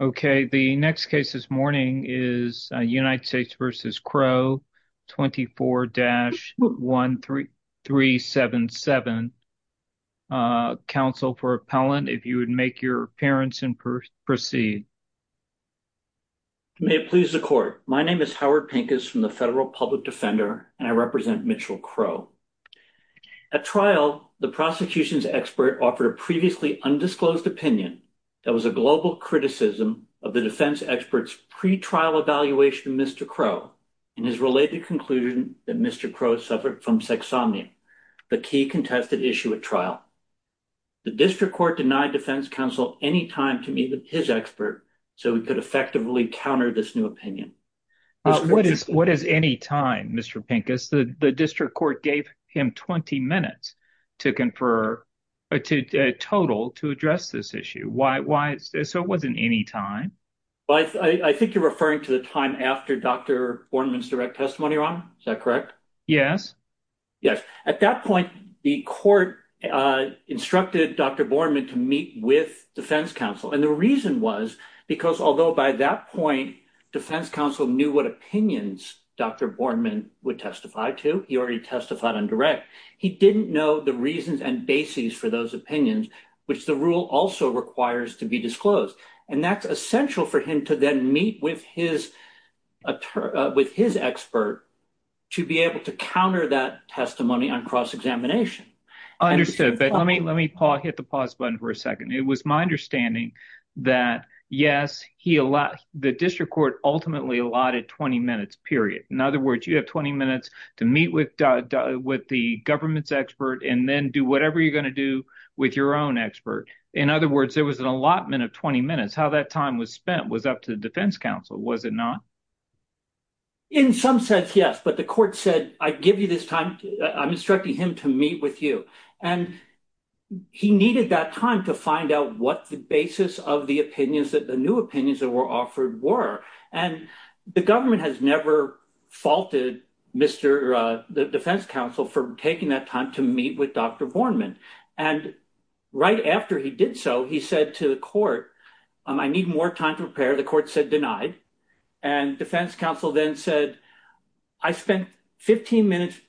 Okay, the next case this morning is United States v. Crow, 24-1377. Counsel for appellant, if you would make your appearance and proceed. May it please the court. My name is Howard Pincus from the Federal Public Defender, and I represent Mitchell Crow. At trial, the prosecution's expert offered a previously undisclosed opinion that was a global criticism of the defense expert's pre-trial evaluation of Mr. Crow and his related conclusion that Mr. Crow suffered from sexsomnia, the key contested issue at trial. The district court denied defense counsel any time to meet with his expert so he could effectively counter this new opinion. What is any time, Mr. Pincus? The district court gave him 20 minutes to confer a total to address this issue. Why? So it wasn't any time. I think you're referring to the time after Dr. Borman's direct testimony, Ron. Is that correct? Yes. Yes. At that point, the court instructed Dr. Borman to meet with defense counsel. And the reason was because although by that point, defense counsel knew what opinions Dr. Borman would testify to, he already testified on direct. He didn't know the reasons and bases for those opinions, which the rule also requires to be disclosed. And that's essential for him to then meet with his expert to be able to counter that testimony on cross-examination. Understood. But let me hit the pause button for a second. It was my understanding that, yes, the district court ultimately allotted 20 minutes, period. In other words, you have 20 minutes to meet with the government's expert and then do whatever you're going to do with your own expert. In other words, there was an allotment of 20 minutes. How that time was spent was up to the defense counsel, was it not? In some sense, yes. But the court said, I give you this time. I'm instructing him to meet with you. And he needed that time to find out what the basis of the opinions that the new opinions that were offered were. And the government has never faulted Mr. The defense counsel for taking that time to meet with Dr. Borman. And right after he did so, he said to the court, I need more time to prepare. And defense counsel then said I spent 15 minutes.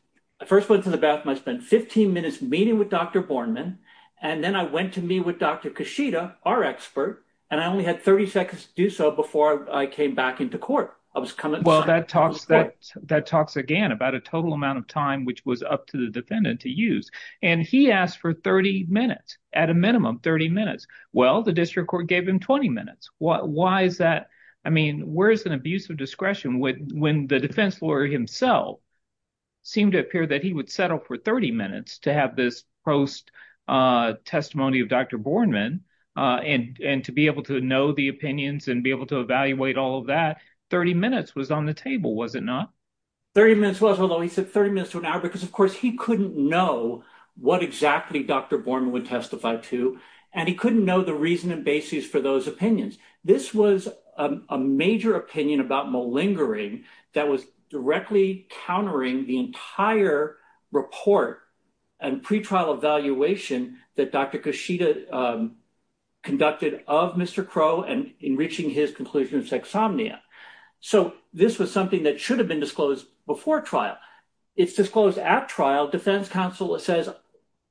I first went to the bathroom. I spent 15 minutes meeting with Dr. Borman. And then I went to me with Dr. Kashida, our expert. And I only had 30 seconds to do so before I came back into court. I was coming. Well, that talks that that talks again about a total amount of time, which was up to the defendant to use. And he asked for 30 minutes at a minimum, 30 minutes. Well, the district court gave him 20 minutes. Why is that? I mean, where is an abuse of discretion when the defense lawyer himself seemed to appear that he would settle for 30 minutes to have this post testimony of Dr. Borman and to be able to know the opinions and be able to evaluate all of that. 30 minutes was on the table, was it not? 30 minutes was although he said 30 minutes to an hour, because, of course, he couldn't know what exactly Dr. Borman was talking about, he couldn't know the reason and basis for those opinions. This was a major opinion about malingering that was directly countering the entire report and pretrial evaluation that Dr. Kashida conducted of Mr. Crow and in reaching his conclusion of sexsomnia. So this was something that should have been disclosed before trial. It's disclosed at trial. Defense counsel says,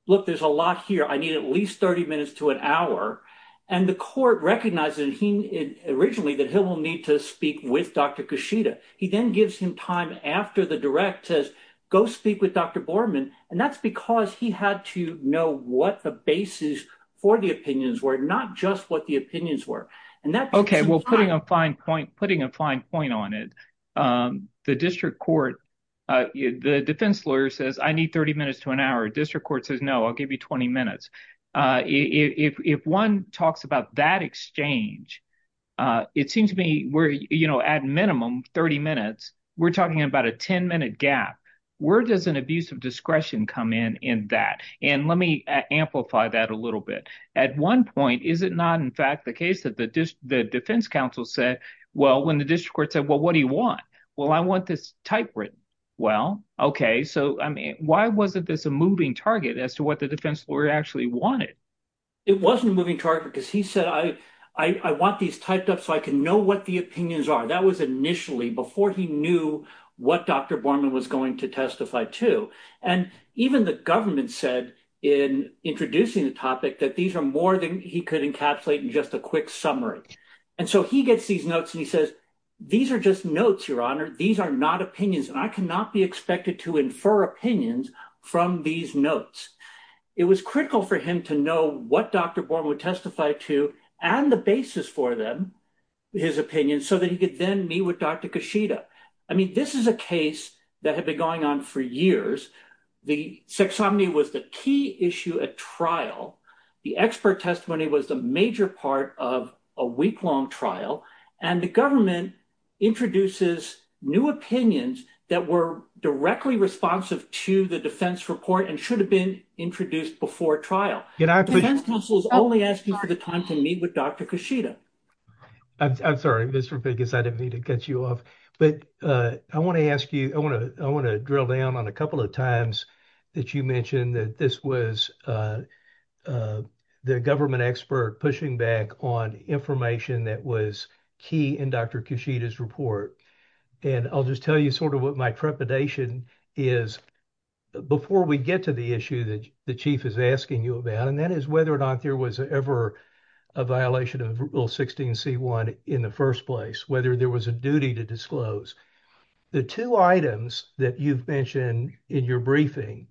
look, there's a lot here. I need at least 30 minutes to an hour. And the court recognizes he originally that he'll need to speak with Dr. Kashida. He then gives him time after the direct says, go speak with Dr. Borman. And that's because he had to know what the basis for the opinions were, not just what the opinions were. OK, well, putting a fine point, putting a fine point on it. The district court, the defense lawyer says I need 30 minutes to an hour. District court says, no, I'll give you 20 minutes. If one talks about that exchange, it seems to me where, you know, at minimum 30 minutes. We're talking about a 10 minute gap. Where does an abuse of discretion come in in that? And let me amplify that a little bit. At one point, is it not, in fact, the case that the defense counsel said, well, when the district court said, well, what do you want? Well, I want this typewritten. Well, OK, so why wasn't this a moving target as to what the defense lawyer actually wanted? It wasn't a moving target because he said, I want these typed up so I can know what the opinions are. That was initially before he knew what Dr. Borman was going to testify to. And even the government said in introducing the topic that these are more than he could encapsulate in just a quick summary. And so he gets these notes and he says, these are just notes, Your Honor. These are not opinions. And I cannot be expected to infer opinions from these notes. It was critical for him to know what Dr. Borman would testify to and the basis for them, his opinion, so that he could then meet with Dr. Kashida. I mean, this is a case that had been going on for years. The sexominy was the key issue at trial. The expert testimony was the major part of a weeklong trial. And the government introduces new opinions that were directly responsive to the defense report and should have been introduced before trial. The defense counsel is only asking for the time to meet with Dr. Kashida. I'm sorry, Mr. Biggis, I didn't mean to cut you off. But I want to ask you, I want to drill down on a couple of times that you mentioned that this was the government expert pushing back on information that was key in Dr. Kashida's report. And I'll just tell you sort of what my trepidation is before we get to the issue that the chief is asking you about. And that is whether or not there was ever a violation of Rule 16C1 in the first place, whether there was a duty to disclose. The two items that you've mentioned in your briefing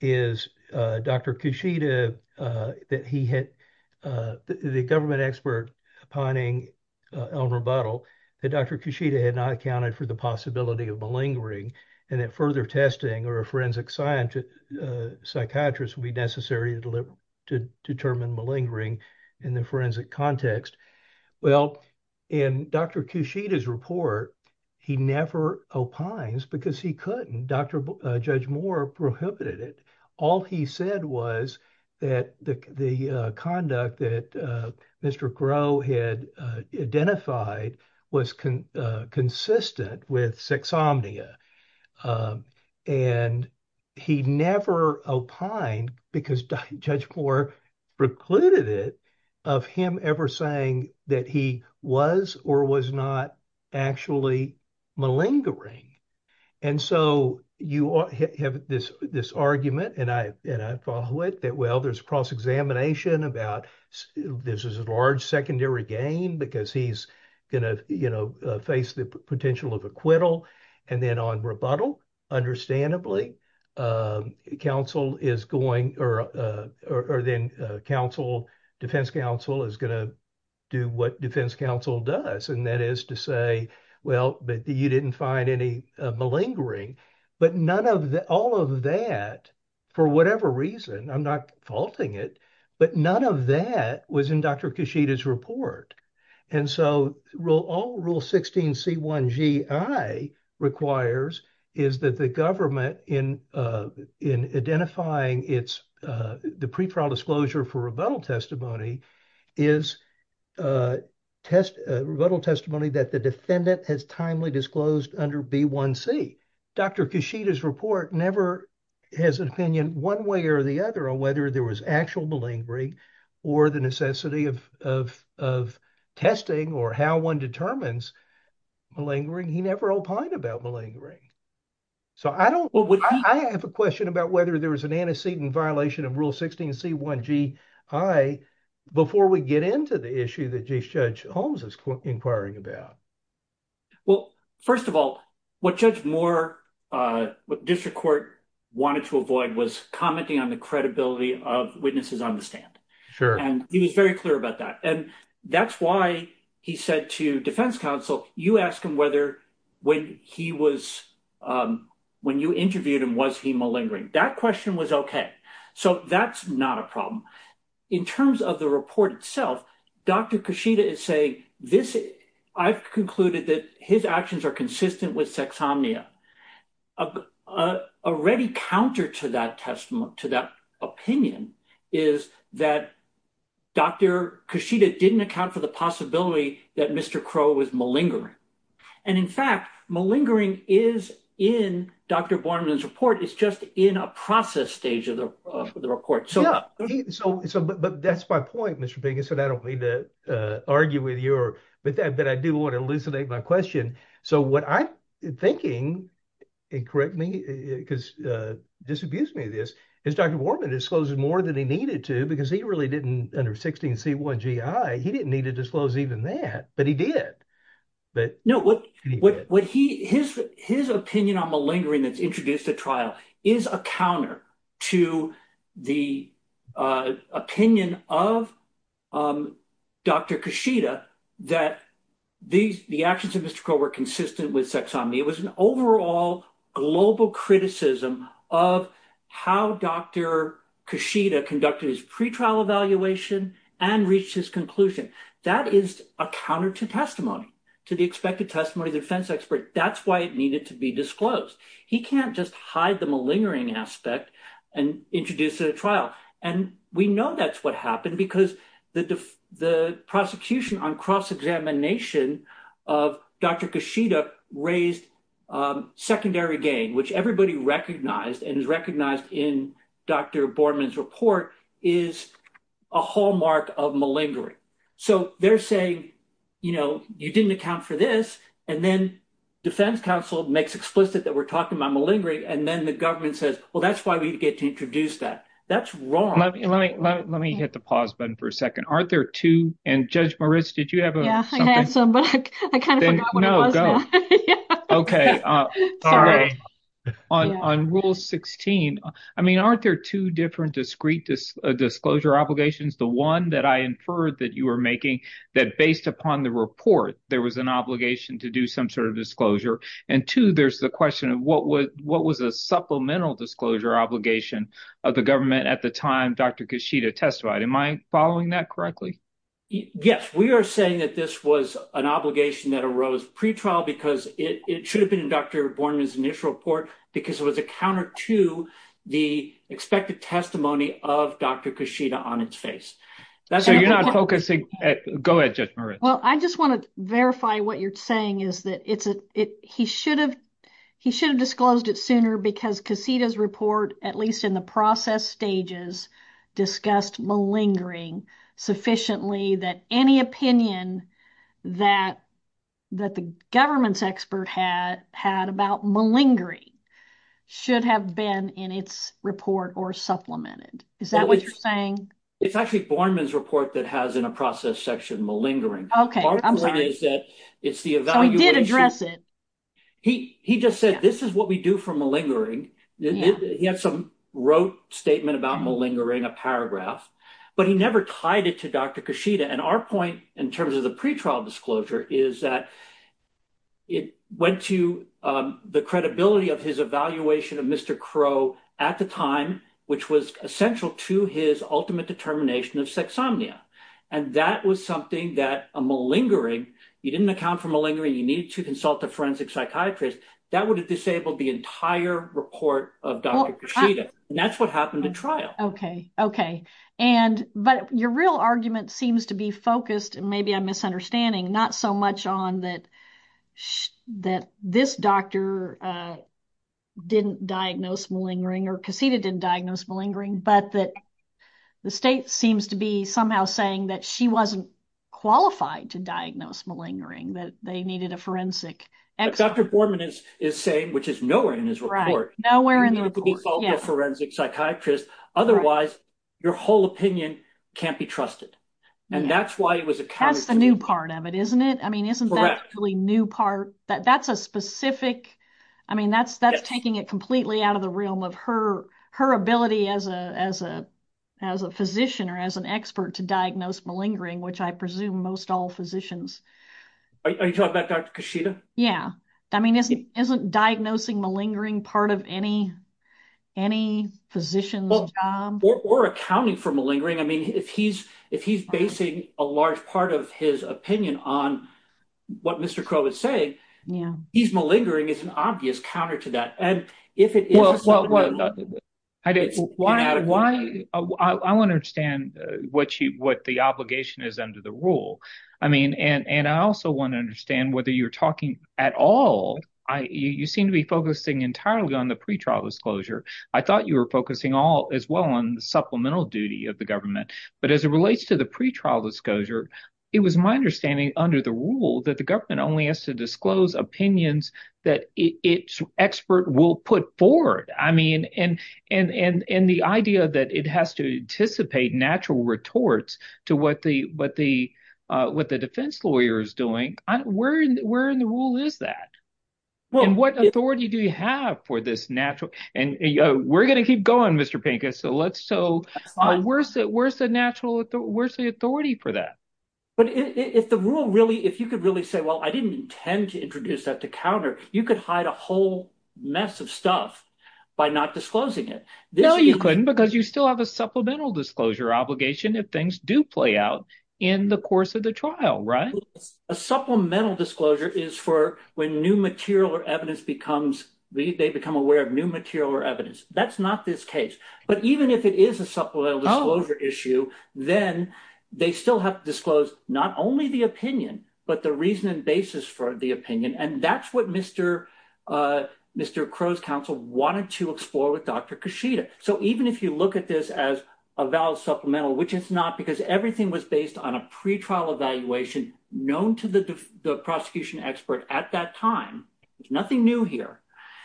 is Dr. Kashida, the government expert pining Elmer Buttle, that Dr. Kashida had not accounted for the possibility of malingering. And that further testing or a forensic psychiatrist would be necessary to determine malingering in the forensic context. Well, in Dr. Kashida's report, he never opines because he couldn't. Judge Moore prohibited it. All he said was that the conduct that Mr. Groh had identified was consistent with sexsomnia. And he never opined because Judge Moore precluded it of him ever saying that he was or was not actually malingering. And so you have this argument, and I follow it, that, well, there's cross-examination about this is a large secondary gain because he's going to face the potential of acquittal. And then on rebuttal, understandably, defense counsel is going to do what defense counsel does. And that is to say, well, but you didn't find any malingering. But all of that, for whatever reason, I'm not faulting it, but none of that was in Dr. Kashida's report. And so all Rule 16C1GI requires is that the government, in identifying the pre-trial disclosure for rebuttal testimony, is rebuttal testimony that the defendant has timely disclosed under B1C. Dr. Kashida's report never has an opinion one way or the other on whether there was actual malingering or the necessity of testing or how one determines malingering. He never opined about malingering. So I have a question about whether there was an antecedent violation of Rule 16C1GI before we get into the issue that Judge Holmes is inquiring about. Well, first of all, what Judge Moore, what district court wanted to avoid was commenting on the credibility of witnesses on the stand. Sure. And he was very clear about that. And that's why he said to defense counsel, you ask him whether when he was when you interviewed him, was he malingering? That question was OK. So that's not a problem. In terms of the report itself, Dr. Kashida is saying this. I've concluded that his actions are consistent with sexomnia. A ready counter to that testimony, to that opinion, is that Dr. Kashida didn't account for the possibility that Mr. Crow was malingering. And in fact, malingering is in Dr. Borman's report. It's just in a process stage of the report. But that's my point, Mr. Pink. I don't mean to argue with you or with that, but I do want to elucidate my question. So what I'm thinking, and correct me because disabuse me of this, is Dr. Borman disclosed more than he needed to because he really didn't, under 16C1GI, he didn't need to disclose even that, but he did. His opinion on malingering that's introduced at trial is a counter to the opinion of Dr. Kashida that the actions of Mr. Crow were consistent with sexomnia. It was an overall global criticism of how Dr. Kashida conducted his pretrial evaluation and reached his conclusion. That is a counter to testimony, to the expected testimony of the defense expert. That's why it needed to be disclosed. He can't just hide the malingering aspect and introduce it at trial. And we know that's what happened because the prosecution on cross-examination of Dr. Kashida raised secondary gain, which everybody recognized and is recognized in Dr. Borman's report is a hallmark of malingering. So they're saying, you know, you didn't account for this, and then defense counsel makes explicit that we're talking about malingering, and then the government says, well, that's why we get to introduce that. That's wrong. Let me hit the pause button for a second. Aren't there two, and Judge Moritz, did you have something? Yeah, I had some, but I kind of forgot what it was now. Okay. On Rule 16, I mean, aren't there two different discreet disclosure obligations? The one that I inferred that you were making that based upon the report, there was an obligation to do some sort of disclosure. And two, there's the question of what was a supplemental disclosure obligation of the government at the time Dr. Kashida testified. Am I following that correctly? Yes, we are saying that this was an obligation that arose pretrial because it should have been in Dr. Borman's initial report because it was a counter to the expected testimony of Dr. Kashida on its face. So you're not focusing at, go ahead, Judge Moritz. Well, I just want to verify what you're saying is that he should have disclosed it sooner because Kashida's report, at least in the process stages, discussed malingering sufficiently that any opinion that the government's expert had about malingering should have been in its report or supplemented. Is that what you're saying? It's actually Borman's report that has in a process section malingering. Okay, I'm sorry. It's the evaluation. So he did address it. He just said, this is what we do for malingering. He had some rote statement about malingering, a paragraph, but he never tied it to Dr. Kashida. And our point in terms of the pretrial disclosure is that it went to the credibility of his evaluation of Mr. Crow at the time, which was essential to his ultimate determination of sexsomnia. And that was something that a malingering, you didn't account for malingering, you need to consult a forensic psychiatrist, that would have disabled the entire report of Dr. Kashida. And that's what happened in trial. Okay. And, but your real argument seems to be focused, and maybe I'm misunderstanding, not so much on that, that this doctor didn't diagnose malingering or Kashida didn't diagnose malingering, but that the state seems to be somehow saying that she wasn't qualified to diagnose malingering, that they needed a forensic expert. Dr. Borman is saying, which is nowhere in his report, you need to consult a forensic psychiatrist. Otherwise, your whole opinion can't be trusted. And that's why it was accounted for. That's the new part of it, isn't it? I mean, isn't that the new part? That's a specific, I mean, that's taking it completely out of the realm of her ability as a physician or as an expert to diagnose malingering, which I presume most all physicians. Are you talking about Dr. Kashida? Yeah. I mean, isn't diagnosing malingering part of any physician's job? Or accounting for malingering. I mean, if he's basing a large part of his opinion on what Mr. Crow is saying, he's malingering is an obvious counter to that. Well, I want to understand what the obligation is under the rule. I mean, and I also want to understand whether you're talking at all. You seem to be focusing entirely on the pretrial disclosure. I thought you were focusing all as well on the supplemental duty of the government. But as it relates to the pretrial disclosure, it was my understanding under the rule that the government only has to disclose opinions that its expert will put forward. I mean, and the idea that it has to anticipate natural retorts to what the defense lawyer is doing. Where in the rule is that? And what authority do you have for this natural? And we're going to keep going, Mr. Pinker. So where's the authority for that? But if the rule really – if you could really say, well, I didn't intend to introduce that to counter, you could hide a whole mess of stuff by not disclosing it. No, you couldn't, because you still have a supplemental disclosure obligation if things do play out in the course of the trial, right? A supplemental disclosure is for when new material or evidence becomes – they become aware of new material or evidence. That's not this case. But even if it is a supplemental disclosure issue, then they still have to disclose not only the opinion, but the reason and basis for the opinion. And that's what Mr. Crow's counsel wanted to explore with Dr. Kashida. So even if you look at this as a valid supplemental, which it's not because everything was based on a pretrial evaluation known to the prosecution expert at that time, there's nothing new here.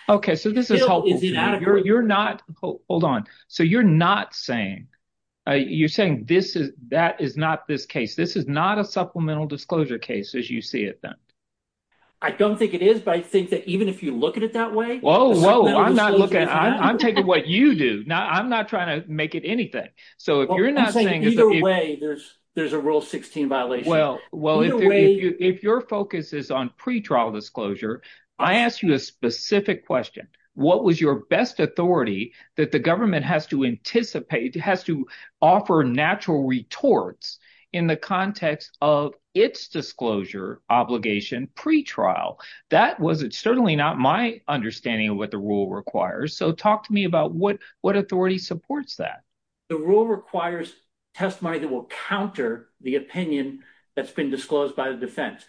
Okay, so this is helpful to me. You're not – hold on. So you're not saying – you're saying this is – that is not this case. This is not a supplemental disclosure case as you see it then. I don't think it is, but I think that even if you look at it that way… Whoa, whoa. I'm not looking. I'm taking what you do. I'm not trying to make it anything. So if you're not saying that… I'm saying either way there's a Rule 16 violation. Either way… If your focus is on pretrial disclosure, I ask you a specific question. What was your best authority that the government has to anticipate – has to offer natural retorts in the context of its disclosure obligation pretrial? That was certainly not my understanding of what the rule requires. So talk to me about what authority supports that. The rule requires testimony that will counter the opinion that's been disclosed by the defense.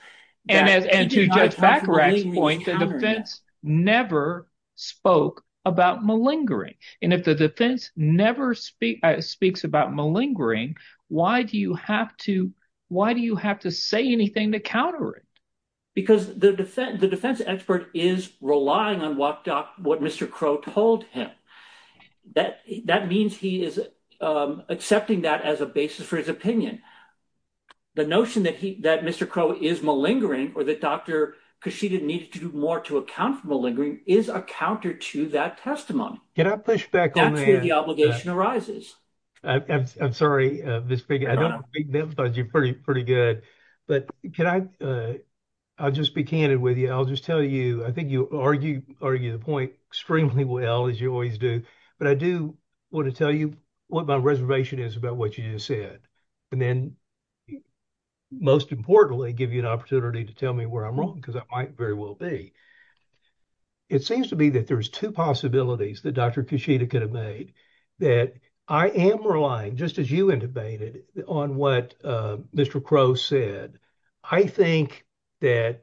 And to Judge Fakirak's point, the defense never spoke about malingering, and if the defense never speaks about malingering, why do you have to say anything to counter it? Because the defense expert is relying on what Mr. Crow told him. That means he is accepting that as a basis for his opinion. The notion that Mr. Crow is malingering or that Dr. Kashida needed to do more to account for malingering is a counter to that testimony. Can I push back on that? That's where the obligation arises. I'm sorry, Ms. Fakirak. I don't want to make them judge you pretty good, but can I – I'll just be candid with you. I'll just tell you – I think you argue the point extremely well, as you always do, but I do want to tell you what my reservation is about what you just said. And then, most importantly, give you an opportunity to tell me where I'm wrong, because I might very well be. It seems to me that there's two possibilities that Dr. Kashida could have made, that I am relying, just as you interpreted, on what Mr. Crow said. I think that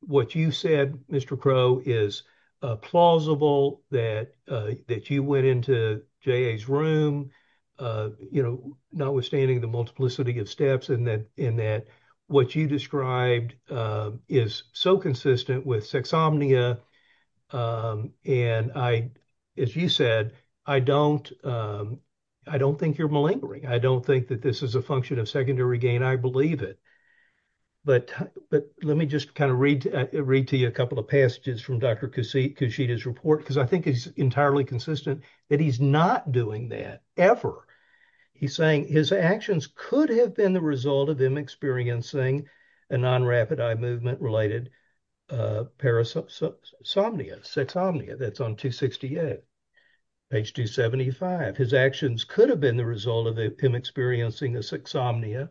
what you said, Mr. Crow, is plausible, that you went into J.A.'s room, notwithstanding the multiplicity of steps, and that what you described is so consistent with sexomnia. And, as you said, I don't think you're malingering. I don't think that this is a function of secondary gain. I believe it. But let me just kind of read to you a couple of passages from Dr. Kashida's report, because I think it's entirely consistent that he's not doing that, ever. He's saying his actions could have been the result of him experiencing a non-rapid eye movement-related parasomnia, sexomnia. That's on page 268. Page 275, his actions could have been the result of him experiencing a sexomnia.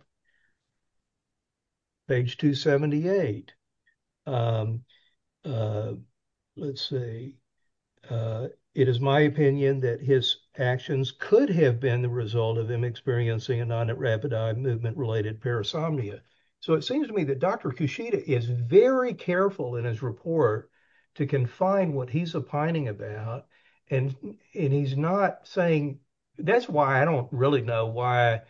Page 278. Let's see. It is my opinion that his actions could have been the result of him experiencing a non-rapid eye movement-related parasomnia. So it seems to me that Dr. Kashida is very careful in his report to confine what he's opining about, and he's not saying... That's why I don't really know why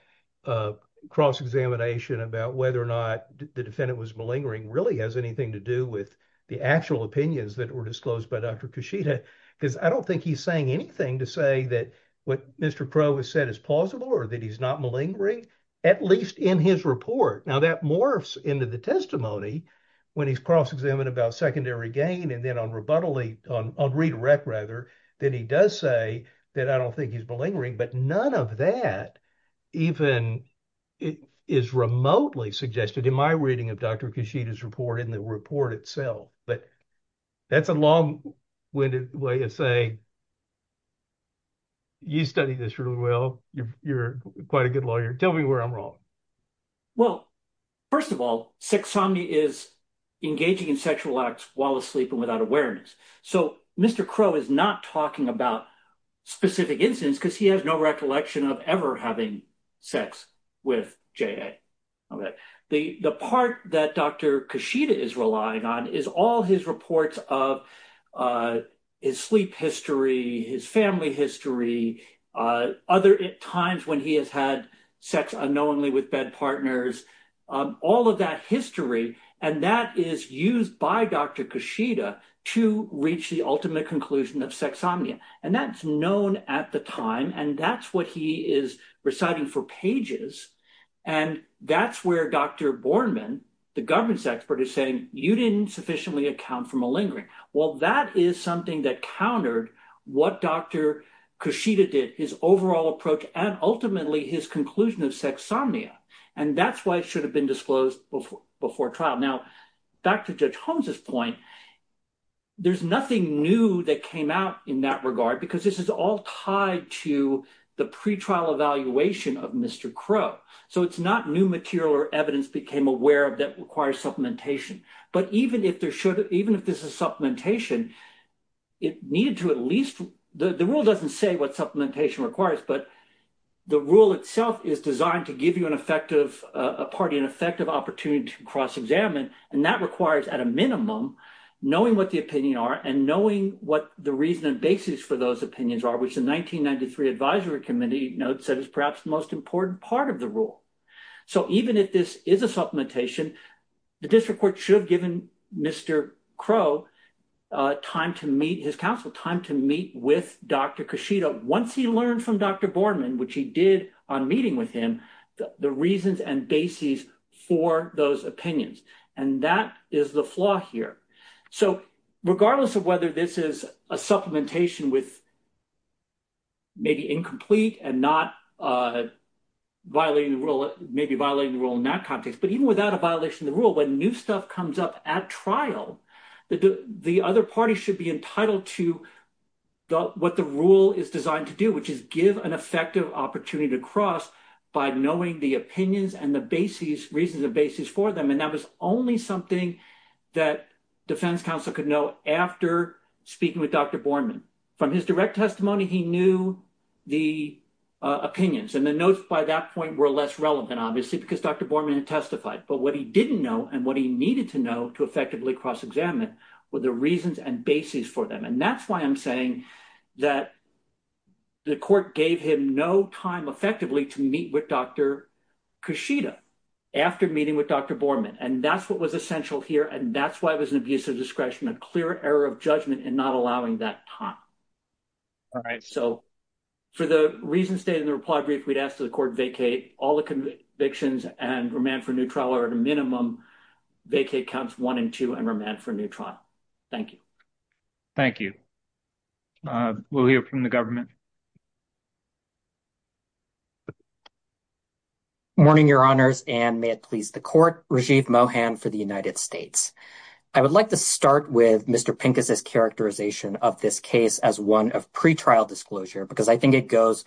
a cross-examination about whether or not the defendant was malingering really has anything to do with the actual opinions that were disclosed by Dr. Kashida, because I don't think he's saying anything to say that what Mr. Crow has said is plausible or that he's not malingering, at least in his report. Now, that morphs into the testimony when he's cross-examined about secondary gain, and then on redirect, then he does say that I don't think he's malingering, but none of that even is remotely suggested in my reading of Dr. Kashida's report in the report itself. But that's a long-winded way of saying, you studied this really well. You're quite a good lawyer. Tell me where I'm wrong. Well, first of all, sexsomnia is engaging in sexual acts while asleep and without awareness. So Mr. Crow is not talking about specific incidents because he has no recollection of ever having sex with J.A. The part that Dr. Kashida is relying on is all his reports of his sleep history, his family history, other times when he has had sex unknowingly with bed partners, all of that history, and that is used by Dr. Kashida to reach the ultimate conclusion of sexsomnia. And that's known at the time, and that's what he is reciting for pages. And that's where Dr. Bornman, the government's expert, is saying you didn't sufficiently account for malingering. Well, that is something that countered what Dr. Kashida did, his overall approach and ultimately his conclusion of sexsomnia. And that's why it should have been disclosed before trial. Now, back to Judge Holmes's point, there's nothing new that came out in that regard because this is all tied to the pretrial evaluation of Mr. Crow. So it's not new material or evidence became aware of that requires supplementation. But even if there should, even if this is supplementation, it needed to at least the rule doesn't say what supplementation requires, but the rule itself is designed to give you an effective party, an effective opportunity to cross examine. And that requires at a minimum knowing what the opinion are and knowing what the reason and basis for those opinions are, which the 1993 advisory committee notes that is perhaps the most important part of the rule. So even if this is a supplementation, the district court should have given Mr. Crow time to meet his counsel, time to meet with Dr. Kashida. Once he learned from Dr. Bornman, which he did on a meeting with him, the reasons and basis for those opinions. And that is the flaw here. So regardless of whether this is a supplementation with. Maybe incomplete and not violating the rule, maybe violating the rule in that context, but even without a violation of the rule, when new stuff comes up at trial, the other party should be entitled to what the rule is designed to do, which is give an effective opportunity to cross by knowing the opinions and the basis reasons of basis for them. And that was only something that defense counsel could know after speaking with Dr. Bornman from his direct testimony. He knew the opinions and the notes by that point were less relevant, obviously, because Dr. Bornman had testified. But what he didn't know and what he needed to know to effectively cross examine with the reasons and basis for them. And that's why I'm saying that the court gave him no time effectively to meet with Dr. Kashida after meeting with Dr. Bornman. And that's what was essential here. And that's why it was an abuse of discretion, a clear error of judgment and not allowing that time. All right. So for the reasons stated in the reply brief, we'd ask the court vacate all the convictions and remand for new trial or at a minimum vacate counts one and two and remand for new trial. Thank you. Thank you. We'll hear from the government. Morning, Your Honors, and may it please the court. Rajiv Mohan for the United States. I would like to start with Mr. Pincus's characterization of this case as one of pretrial disclosure, because I think it goes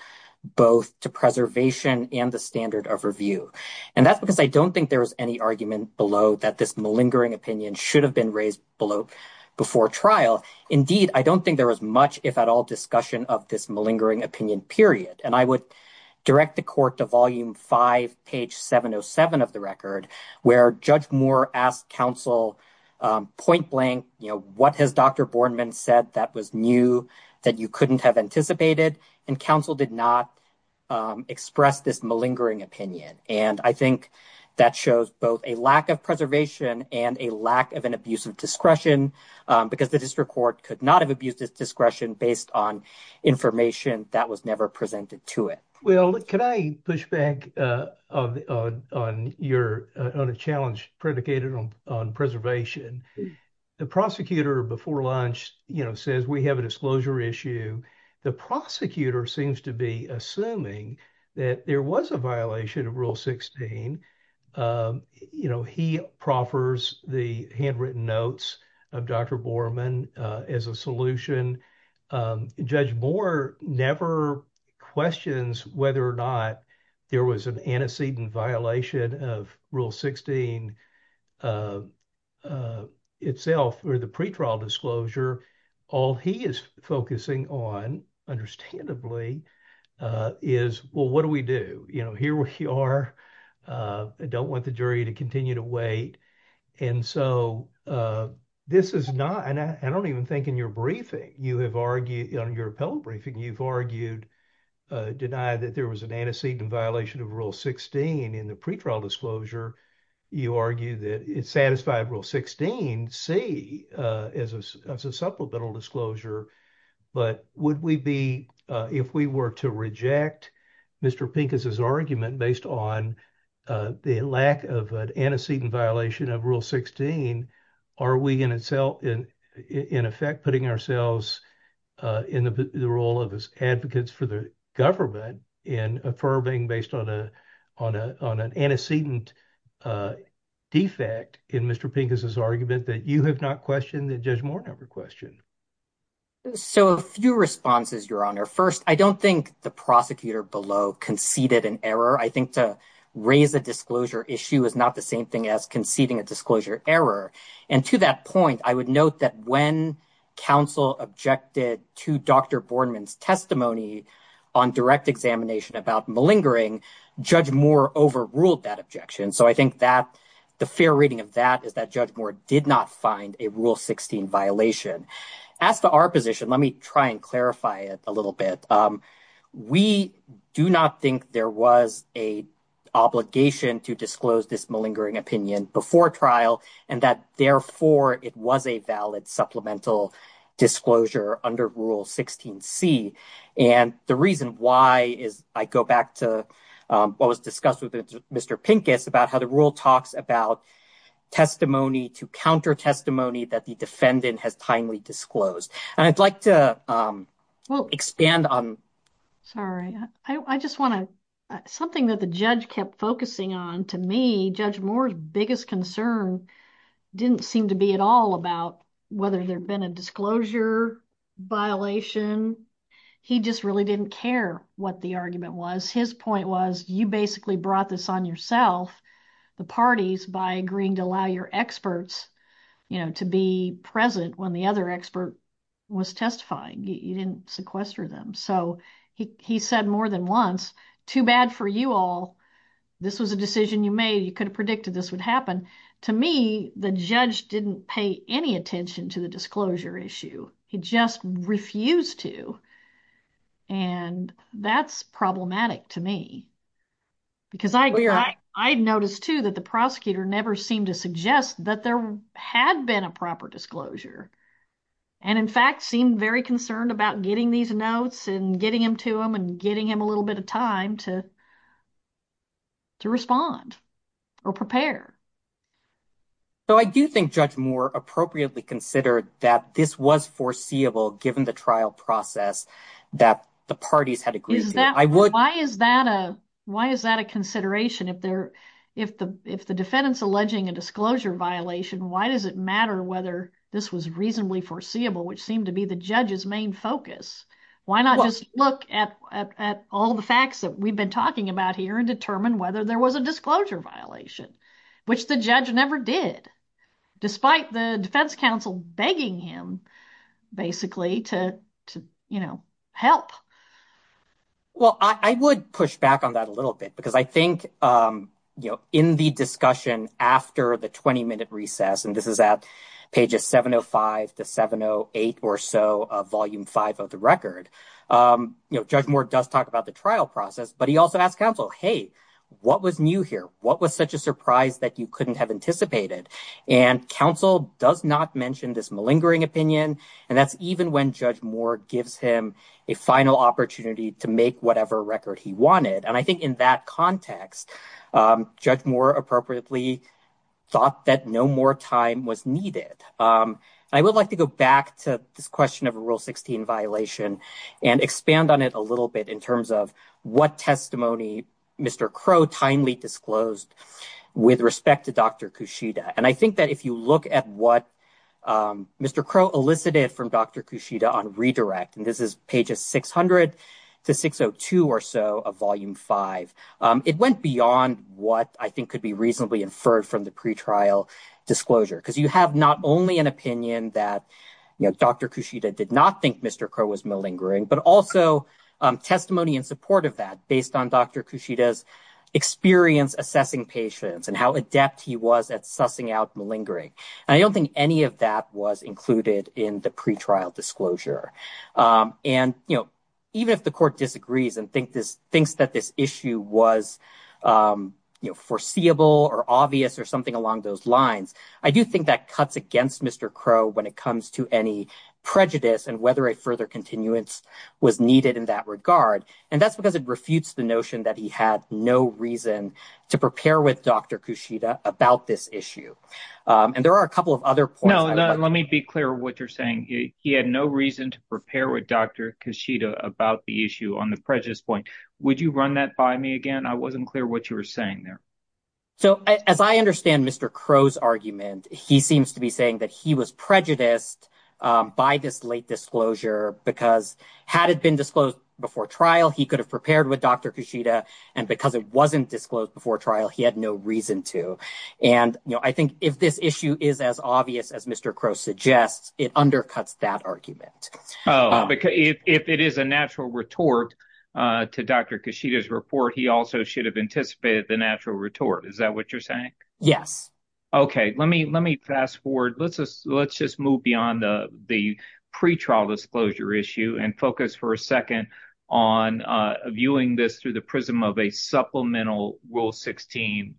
both to preservation and the standard of review. And that's because I don't think there is any argument below that this malingering opinion should have been raised below before trial. Indeed, I don't think there was much, if at all, discussion of this malingering opinion, period. And I would direct the court to volume five, page 707 of the record, where Judge Moore asked counsel point blank. You know, what has Dr. Boardman said that was new that you couldn't have anticipated? And counsel did not express this malingering opinion. And I think that shows both a lack of preservation and a lack of an abuse of discretion because the district court could not have abused its discretion based on information that was never presented to it. Well, can I push back on a challenge predicated on preservation? The prosecutor before lunch, you know, says we have a disclosure issue. The prosecutor seems to be assuming that there was a violation of Rule 16. You know, he proffers the handwritten notes of Dr. Boardman as a solution. Judge Moore never questions whether or not there was an antecedent violation of Rule 16 itself or the pretrial disclosure. All he is focusing on, understandably, is, well, what do we do? You know, here we are. I don't want the jury to continue to wait. And so this is not, and I don't even think in your briefing, you have argued on your appellate briefing, you've argued, denied that there was an antecedent violation of Rule 16 in the pretrial disclosure. You argue that it satisfied Rule 16C as a supplemental disclosure. But would we be, if we were to reject Mr. Pincus' argument based on the lack of an antecedent violation of Rule 16, are we in effect putting ourselves in the role of advocates for the government in affirming based on an antecedent defect in Mr. Pincus' argument that you have not questioned that Judge Moore never questioned? So a few responses, Your Honor. First, I don't think the prosecutor below conceded an error. I think to raise a disclosure issue is not the same thing as conceding a disclosure error. And to that point, I would note that when counsel objected to Dr. Boardman's testimony on direct examination about malingering, Judge Moore overruled that objection. So I think that the fair reading of that is that Judge Moore did not find a Rule 16 violation. As to our position, let me try and clarify it a little bit. We do not think there was a obligation to disclose this malingering opinion before trial and that, therefore, it was a valid supplemental disclosure under Rule 16C. And the reason why is I go back to what was discussed with Mr. Pincus about how the rule talks about testimony to counter testimony that the defendant has timely disclosed. And I'd like to expand on – Sorry. I just want to – something that the judge kept focusing on, to me, Judge Moore's biggest concern didn't seem to be at all about whether there had been a disclosure violation. He just really didn't care what the argument was. His point was you basically brought this on yourself, the parties, by agreeing to allow your experts, you know, to be present when the other expert was testifying. You didn't sequester them. So he said more than once, too bad for you all. This was a decision you made. You could have predicted this would happen. To me, the judge didn't pay any attention to the disclosure issue. He just refused to. And that's problematic to me because I noticed, too, that the prosecutor never seemed to suggest that there had been a proper disclosure. And, in fact, seemed very concerned about getting these notes and getting them to him and getting him a little bit of time to respond or prepare. So I do think Judge Moore appropriately considered that this was foreseeable given the trial process that the parties had agreed to. Why is that a consideration? If the defendant's alleging a disclosure violation, why does it matter whether this was reasonably foreseeable, which seemed to be the judge's main focus? Why not just look at all the facts that we've been talking about here and determine whether there was a disclosure violation, which the judge never did, despite the defense counsel begging him basically to, you know, help? Well, I would push back on that a little bit because I think, you know, in the discussion after the 20-minute recess, and this is at pages 705 to 708 or so of Volume 5 of the record, you know, Judge Moore does talk about the trial process. But he also asked counsel, hey, what was new here? What was such a surprise that you couldn't have anticipated? And counsel does not mention this malingering opinion, and that's even when Judge Moore gives him a final opportunity to make whatever record he wanted. And I think in that context, Judge Moore appropriately thought that no more time was needed. I would like to go back to this question of a Rule 16 violation and expand on it a little bit in terms of what testimony Mr. Crowe timely disclosed with respect to Dr. Kushida. And I think that if you look at what Mr. Crowe elicited from Dr. Kushida on redirect, and this is pages 600 to 602 or so of Volume 5, it went beyond what I think could be reasonably inferred from the pretrial disclosure. Because you have not only an opinion that Dr. Kushida did not think Mr. Crowe was malingering, but also testimony in support of that based on Dr. Kushida's experience assessing patients and how adept he was at sussing out malingering. And I don't think any of that was included in the pretrial disclosure. And even if the court disagrees and thinks that this issue was foreseeable or obvious or something along those lines, I do think that cuts against Mr. Crowe when it comes to any prejudice and whether a further continuance was needed in that regard. And that's because it refutes the notion that he had no reason to prepare with Dr. Kushida about this issue. And there are a couple of other points. No, let me be clear what you're saying. He had no reason to prepare with Dr. Kushida about the issue on the prejudice point. Would you run that by me again? I wasn't clear what you were saying there. So as I understand Mr. Crowe's argument, he seems to be saying that he was prejudiced by this late disclosure because had it been disclosed before trial, he could have prepared with Dr. Kushida. And because it wasn't disclosed before trial, he had no reason to. And I think if this issue is as obvious as Mr. Crowe suggests, it undercuts that argument. Oh, because if it is a natural retort to Dr. Kushida's report, he also should have anticipated the natural retort. Is that what you're saying? Yes. OK, let me let me fast forward. Let's just let's just move beyond the the pretrial disclosure issue and focus for a second on viewing this through the prism of a supplemental rule 16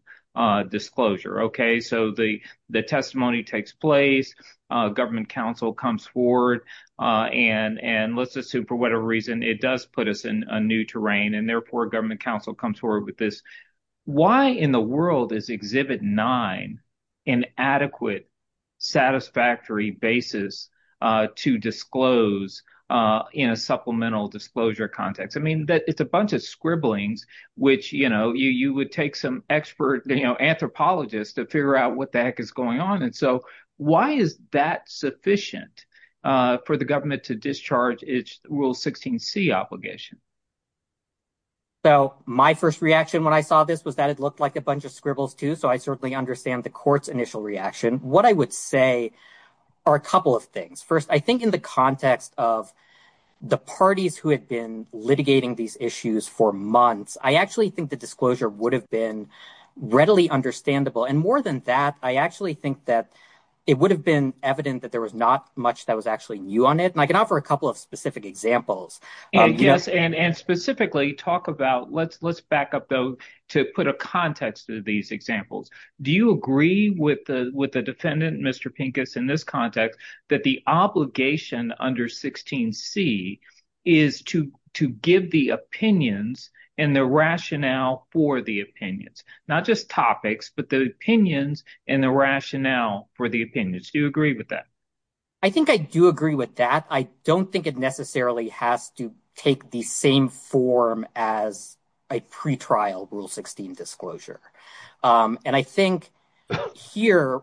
disclosure. OK, so the the testimony takes place. Government counsel comes forward and and let's assume for whatever reason it does put us in a new terrain and therefore government counsel comes forward with this. Why in the world is Exhibit nine an adequate, satisfactory basis to disclose in a supplemental disclosure context? I mean, it's a bunch of scribblings which, you know, you would take some expert anthropologist to figure out what the heck is going on. And so why is that sufficient for the government to discharge its rule 16C obligation? So my first reaction when I saw this was that it looked like a bunch of scribbles, too. So I certainly understand the court's initial reaction. What I would say are a couple of things. First, I think in the context of the parties who had been litigating these issues for months, I actually think the disclosure would have been readily understandable. And more than that, I actually think that it would have been evident that there was not much that was actually new on it. And I can offer a couple of specific examples. Yes. And specifically talk about let's let's back up, though, to put a context to these examples. Do you agree with the with the defendant, Mr. Pincus, in this context that the obligation under 16C is to to give the opinions and the rationale for the opinions? Not just topics, but the opinions and the rationale for the opinions. Do you agree with that? I think I do agree with that. I don't think it necessarily has to take the same form as a pretrial Rule 16 disclosure. And I think here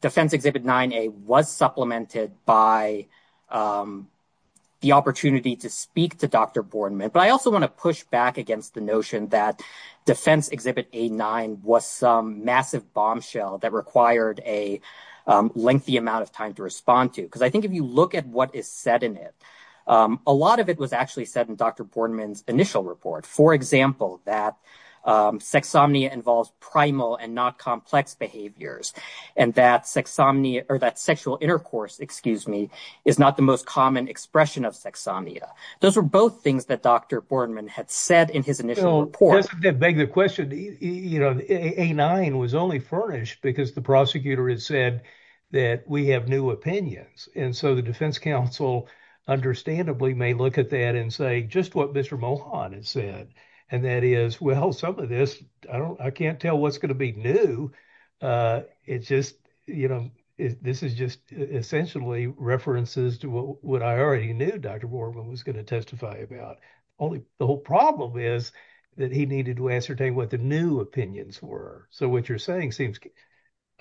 Defense Exhibit 9A was supplemented by the opportunity to speak to Dr. Boardman. But I also want to push back against the notion that Defense Exhibit 9A was some massive bombshell that required a lengthy amount of time to respond to. Because I think if you look at what is said in it, a lot of it was actually said in Dr. Boardman's initial report. For example, that sexsomnia involves primal and not complex behaviors and that sexsomnia or that sexual intercourse, excuse me, is not the most common expression of sexsomnia. Those are both things that Dr. Boardman had said in his initial report. That begs the question, you know, A9 was only furnished because the prosecutor had said that we have new opinions. And so the defense counsel understandably may look at that and say just what Mr. Mohon had said. And that is, well, some of this, I can't tell what's going to be new. It's just, you know, this is just essentially references to what I already knew Dr. Boardman was going to testify about. The whole problem is that he needed to ascertain what the new opinions were. So what you're saying seems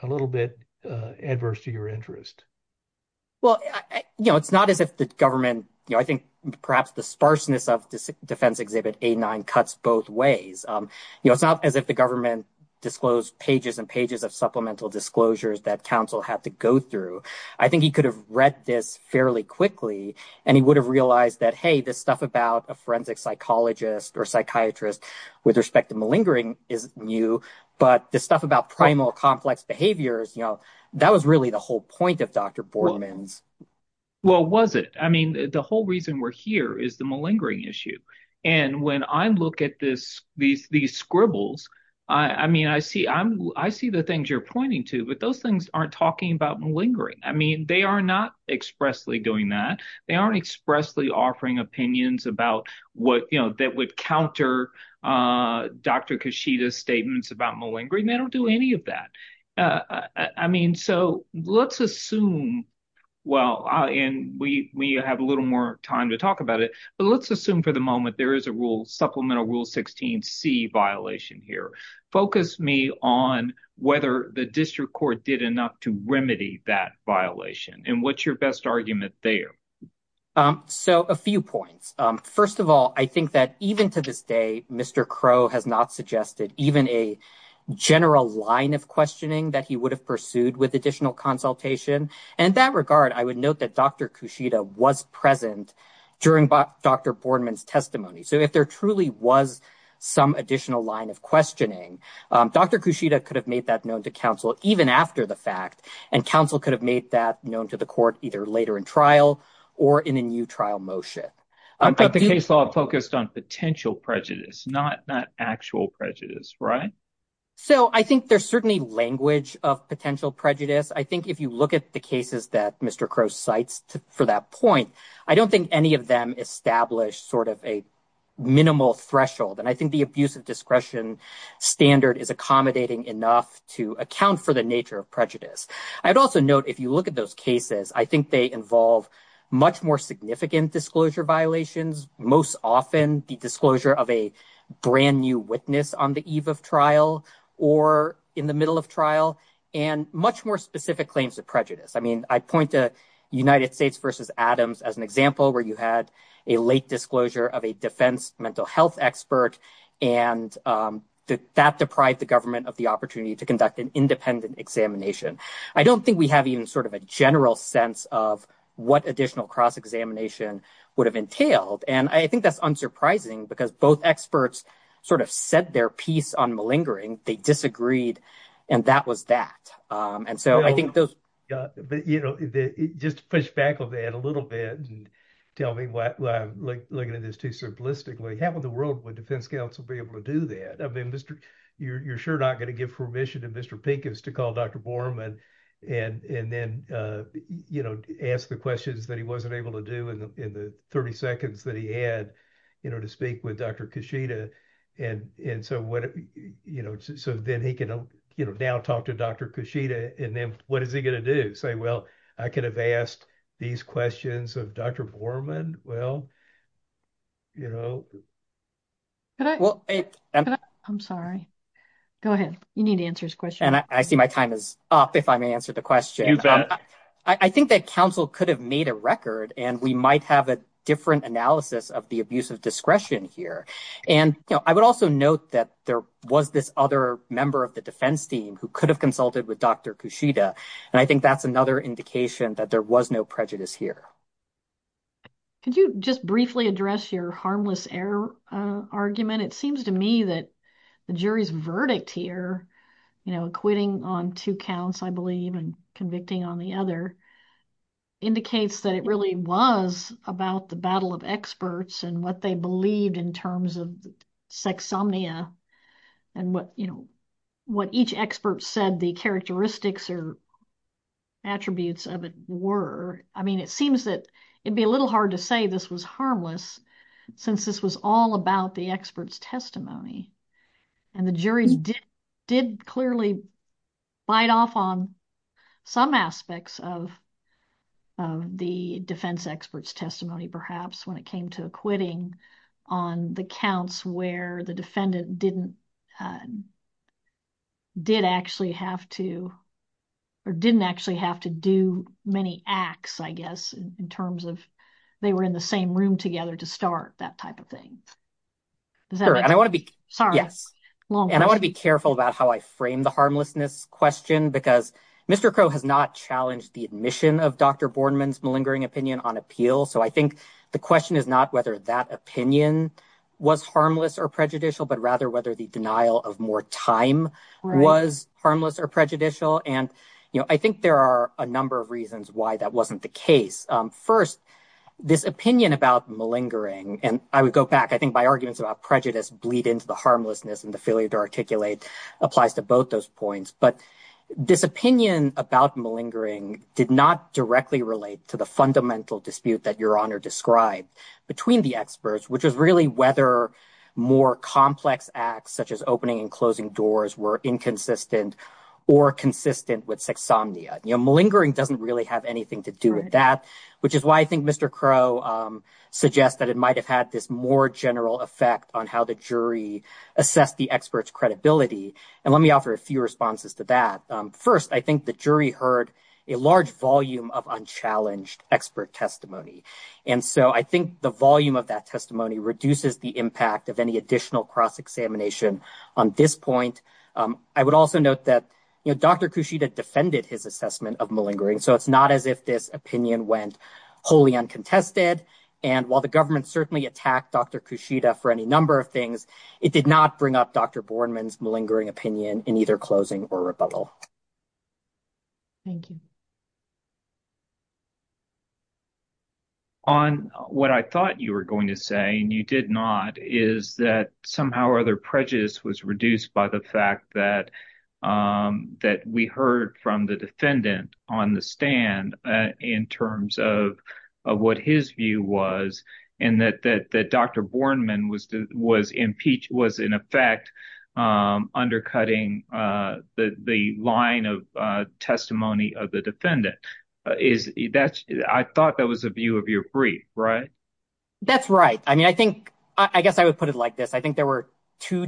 a little bit adverse to your interest. Well, you know, it's not as if the government, you know, I think perhaps the sparseness of Defense Exhibit A9 cuts both ways. You know, it's not as if the government disclosed pages and pages of supplemental disclosures that counsel had to go through. I think he could have read this fairly quickly and he would have realized that, hey, this stuff about a forensic psychologist or psychiatrist with respect to malingering is new. But this stuff about primal complex behaviors, you know, that was really the whole point of Dr. Boardman's. Well, was it? I mean, the whole reason we're here is the malingering issue. And when I look at this, these scribbles, I mean, I see I'm I see the things you're pointing to. But those things aren't talking about malingering. I mean, they are not expressly doing that. They aren't expressly offering opinions about what, you know, that would counter Dr. Kishida's statements about malingering. They don't do any of that. I mean, so let's assume. Well, and we have a little more time to talk about it, but let's assume for the moment there is a rule supplemental rule 16 C violation here. Focus me on whether the district court did enough to remedy that violation. And what's your best argument there? So a few points. First of all, I think that even to this day, Mr. Crowe has not suggested even a general line of questioning that he would have pursued with additional consultation. And that regard, I would note that Dr. Kushida was present during Dr. Boardman's testimony. So if there truly was some additional line of questioning, Dr. Kushida could have made that known to counsel even after the fact. And counsel could have made that known to the court either later in trial or in a new trial motion. But the case law focused on potential prejudice, not not actual prejudice. Right. So I think there's certainly language of potential prejudice. I think if you look at the cases that Mr. Crowe cites for that point, I don't think any of them establish sort of a minimal threshold. And I think the abuse of discretion standard is accommodating enough to account for the nature of prejudice. I'd also note, if you look at those cases, I think they involve much more significant disclosure violations. Most often the disclosure of a brand new witness on the eve of trial or in the middle of trial and much more specific claims of prejudice. I mean, I point to United States versus Adams as an example where you had a late disclosure of a defense mental health expert. And that deprived the government of the opportunity to conduct an independent examination. I don't think we have even sort of a general sense of what additional cross examination would have entailed. And I think that's unsurprising because both experts sort of said their piece on malingering. They disagreed. And that was that. And so I think those. But, you know, just to push back on that a little bit and tell me what I'm looking at this too simplistically. How in the world would defense counsel be able to do that? I mean, you're sure not going to give permission to Mr. Pink is to call Dr. Borman and then, you know, ask the questions that he wasn't able to do in the 30 seconds that he had, you know, to speak with Dr. Kushida. And so, you know, so then he can now talk to Dr. Kushida. And then what is he going to do? Say, well, I could have asked these questions of Dr. Borman. Well, you know. Well, I'm sorry. Go ahead. You need answers. And I see my time is up. If I may answer the question, I think that counsel could have made a record and we might have a different analysis of the abuse of discretion here. And I would also note that there was this other member of the defense team who could have consulted with Dr. Kushida. And I think that's another indication that there was no prejudice here. Could you just briefly address your harmless error argument? It seems to me that the jury's verdict here, you know, quitting on two counts, I believe, and convicting on the other. Indicates that it really was about the battle of experts and what they believed in terms of sexsomnia and what, you know, what each expert said the characteristics or attributes of it were. I mean, it seems that it'd be a little hard to say this was harmless since this was all about the experts testimony. And the jury did clearly bite off on some aspects of the defense experts testimony, perhaps when it came to acquitting on the counts where the defendant didn't did actually have to or didn't actually have to do many acts, I guess, in terms of they were in the same room together to start that type of thing. And I want to be sorry. Yes. And I want to be careful about how I frame the harmlessness question, because Mr. Crow has not challenged the admission of Dr. Borman's malingering opinion on appeal. So I think the question is not whether that opinion was harmless or prejudicial, but rather whether the denial of more time was harmless or prejudicial. And I think there are a number of reasons why that wasn't the case. First, this opinion about malingering and I would go back, I think, by arguments about prejudice bleed into the harmlessness and the failure to articulate applies to both those points. But this opinion about malingering did not directly relate to the fundamental dispute that Your Honor described between the experts, which was really whether more complex acts such as opening and closing doors were inconsistent or consistent with sexsomnia. Malingering doesn't really have anything to do with that, which is why I think Mr. Crow suggests that it might have had this more general effect on how the jury assessed the expert's credibility. And let me offer a few responses to that. First, I think the jury heard a large volume of unchallenged expert testimony. And so I think the volume of that testimony reduces the impact of any additional cross-examination on this point. I would also note that Dr. Kushida defended his assessment of malingering. So it's not as if this opinion went wholly uncontested. And while the government certainly attacked Dr. Kushida for any number of things, it did not bring up Dr. Borman's malingering opinion in either closing or rebuttal. Thank you. On what I thought you were going to say, and you did not, is that somehow or other prejudice was reduced by the fact that we heard from the defendant on the stand in terms of what his view was, and that Dr. Borman was in effect undercutting the line of testimony of the defendant. I thought that was a view of your brief, right? That's right. I mean, I think I guess I would put it like this. I think there were two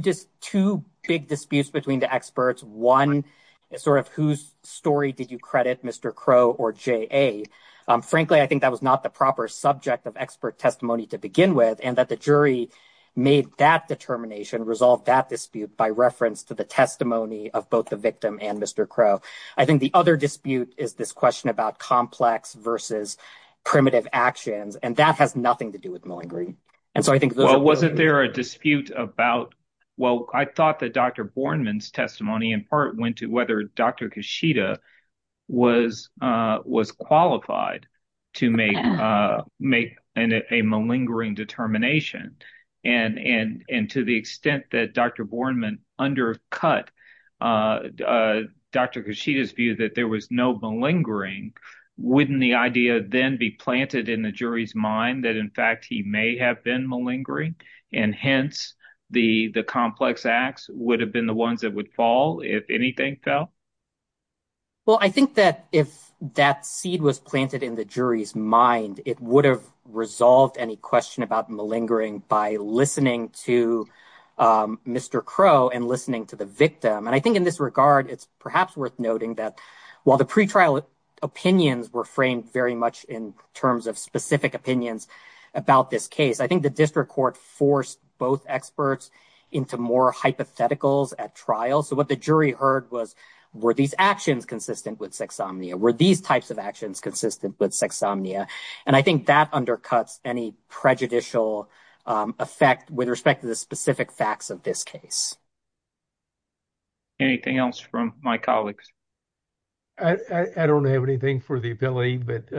big disputes between the experts. One is sort of whose story did you credit Mr. Crow or J.A.? Frankly, I think that was not the proper subject of expert testimony to begin with, and that the jury made that determination, resolved that dispute by reference to the testimony of both the victim and Mr. Crow. I think the other dispute is this question about complex versus primitive actions, and that has nothing to do with malingering. Well, wasn't there a dispute about – well, I thought that Dr. Borman's testimony in part went to whether Dr. Kashida was qualified to make a malingering determination. And to the extent that Dr. Borman undercut Dr. Kashida's view that there was no malingering, wouldn't the idea then be planted in the jury's mind that in fact he may have been malingering, and hence the complex acts would have been the ones that would fall if anything fell? Well, I think that if that seed was planted in the jury's mind, it would have resolved any question about malingering by listening to Mr. Crow and listening to the victim. And I think in this regard, it's perhaps worth noting that while the pretrial opinions were framed very much in terms of specific opinions about this case, I think the district court forced both experts into more hypotheticals at trial. So what the jury heard was, were these actions consistent with sexsomnia? Were these types of actions consistent with sexsomnia? And I think that undercuts any prejudicial effect with respect to the specific facts of this case. Anything else from my colleagues? I don't have anything for the ability, but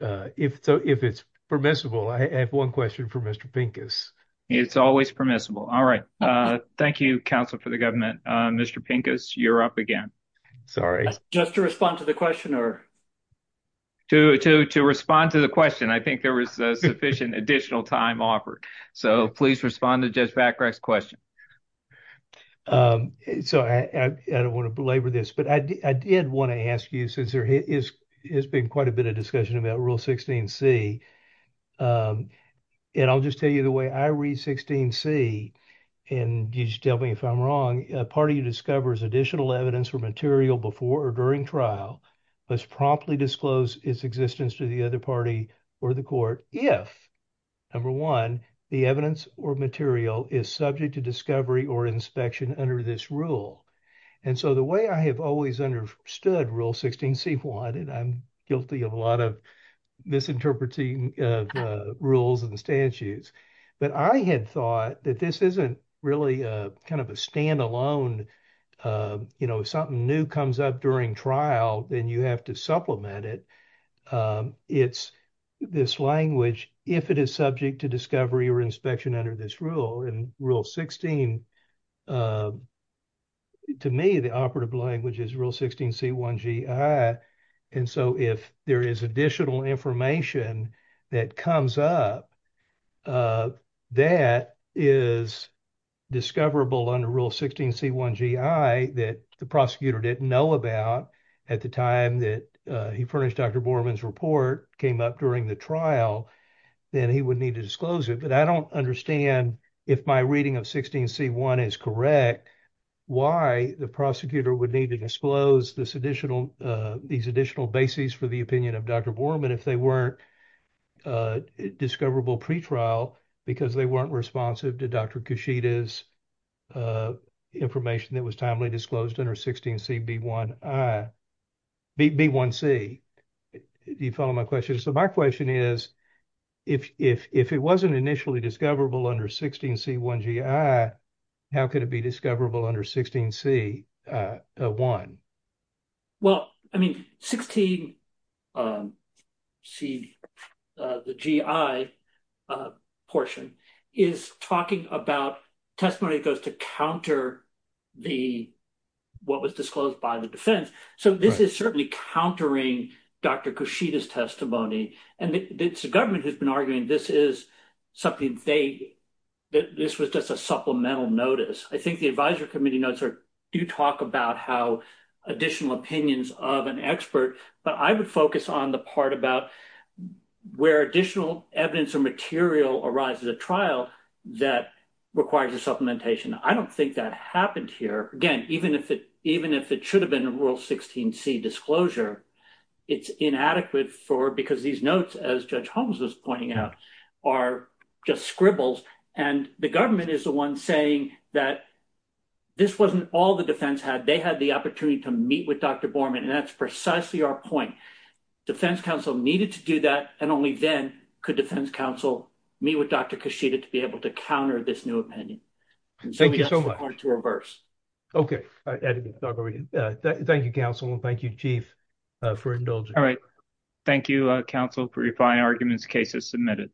if it's permissible, I have one question for Mr. Pincus. It's always permissible. All right. Thank you, counsel, for the government. Mr. Pincus, you're up again. Just to respond to the questioner. To respond to the question. I think there was sufficient additional time offered. So please respond to Judge Bacrak's question. So I don't want to belabor this, but I did want to ask you since there has been quite a bit of discussion about Rule 16C. And I'll just tell you the way I read 16C. And you just tell me if I'm wrong, a party who discovers additional evidence or material before or during trial must promptly disclose its existence to the other party or the court if, number one, the evidence or material is subject to discovery or inspection under this rule. And so the way I have always understood Rule 16C1, and I'm guilty of a lot of misinterpreting of rules and statutes. But I had thought that this isn't really kind of a standalone, you know, something new comes up during trial, then you have to supplement it. It's this language, if it is subject to discovery or inspection under this rule and Rule 16. To me, the operative language is Rule 16C1GI. And so if there is additional information that comes up that is discoverable under Rule 16C1GI that the prosecutor didn't know about at the time that he furnished Dr. Borman's report came up during the trial, then he would need to disclose it. But I don't understand, if my reading of 16C1 is correct, why the prosecutor would need to disclose these additional bases for the opinion of Dr. Borman if they weren't discoverable pretrial because they weren't responsive to Dr. Kushida's information that was timely disclosed under 16CB1C. Do you follow my question? So my question is, if it wasn't initially discoverable under 16C1GI, how could it be discoverable under 16C1? Well, I mean, 16C1GI portion is talking about testimony that goes to counter what was disclosed by the defense. So this is certainly countering Dr. Kushida's testimony. And it's the government who's been arguing this is something that this was just a supplemental notice. I think the advisory committee notes do talk about how additional opinions of an expert, but I would focus on the part about where additional evidence or material arises a trial that requires a supplementation. I don't think that happened here. Again, even if it should have been a Rule 16C disclosure, it's inadequate because these notes, as Judge Holmes was pointing out, are just scribbles. And the government is the one saying that this wasn't all the defense had. They had the opportunity to meet with Dr. Borman. And that's precisely our point. Defense counsel needed to do that. And only then could defense counsel meet with Dr. Kushida to be able to counter this new opinion. Thank you so much. Okay. Thank you, counsel. Thank you, Chief, for indulging. Thank you, counsel, for your fine arguments. Case is submitted.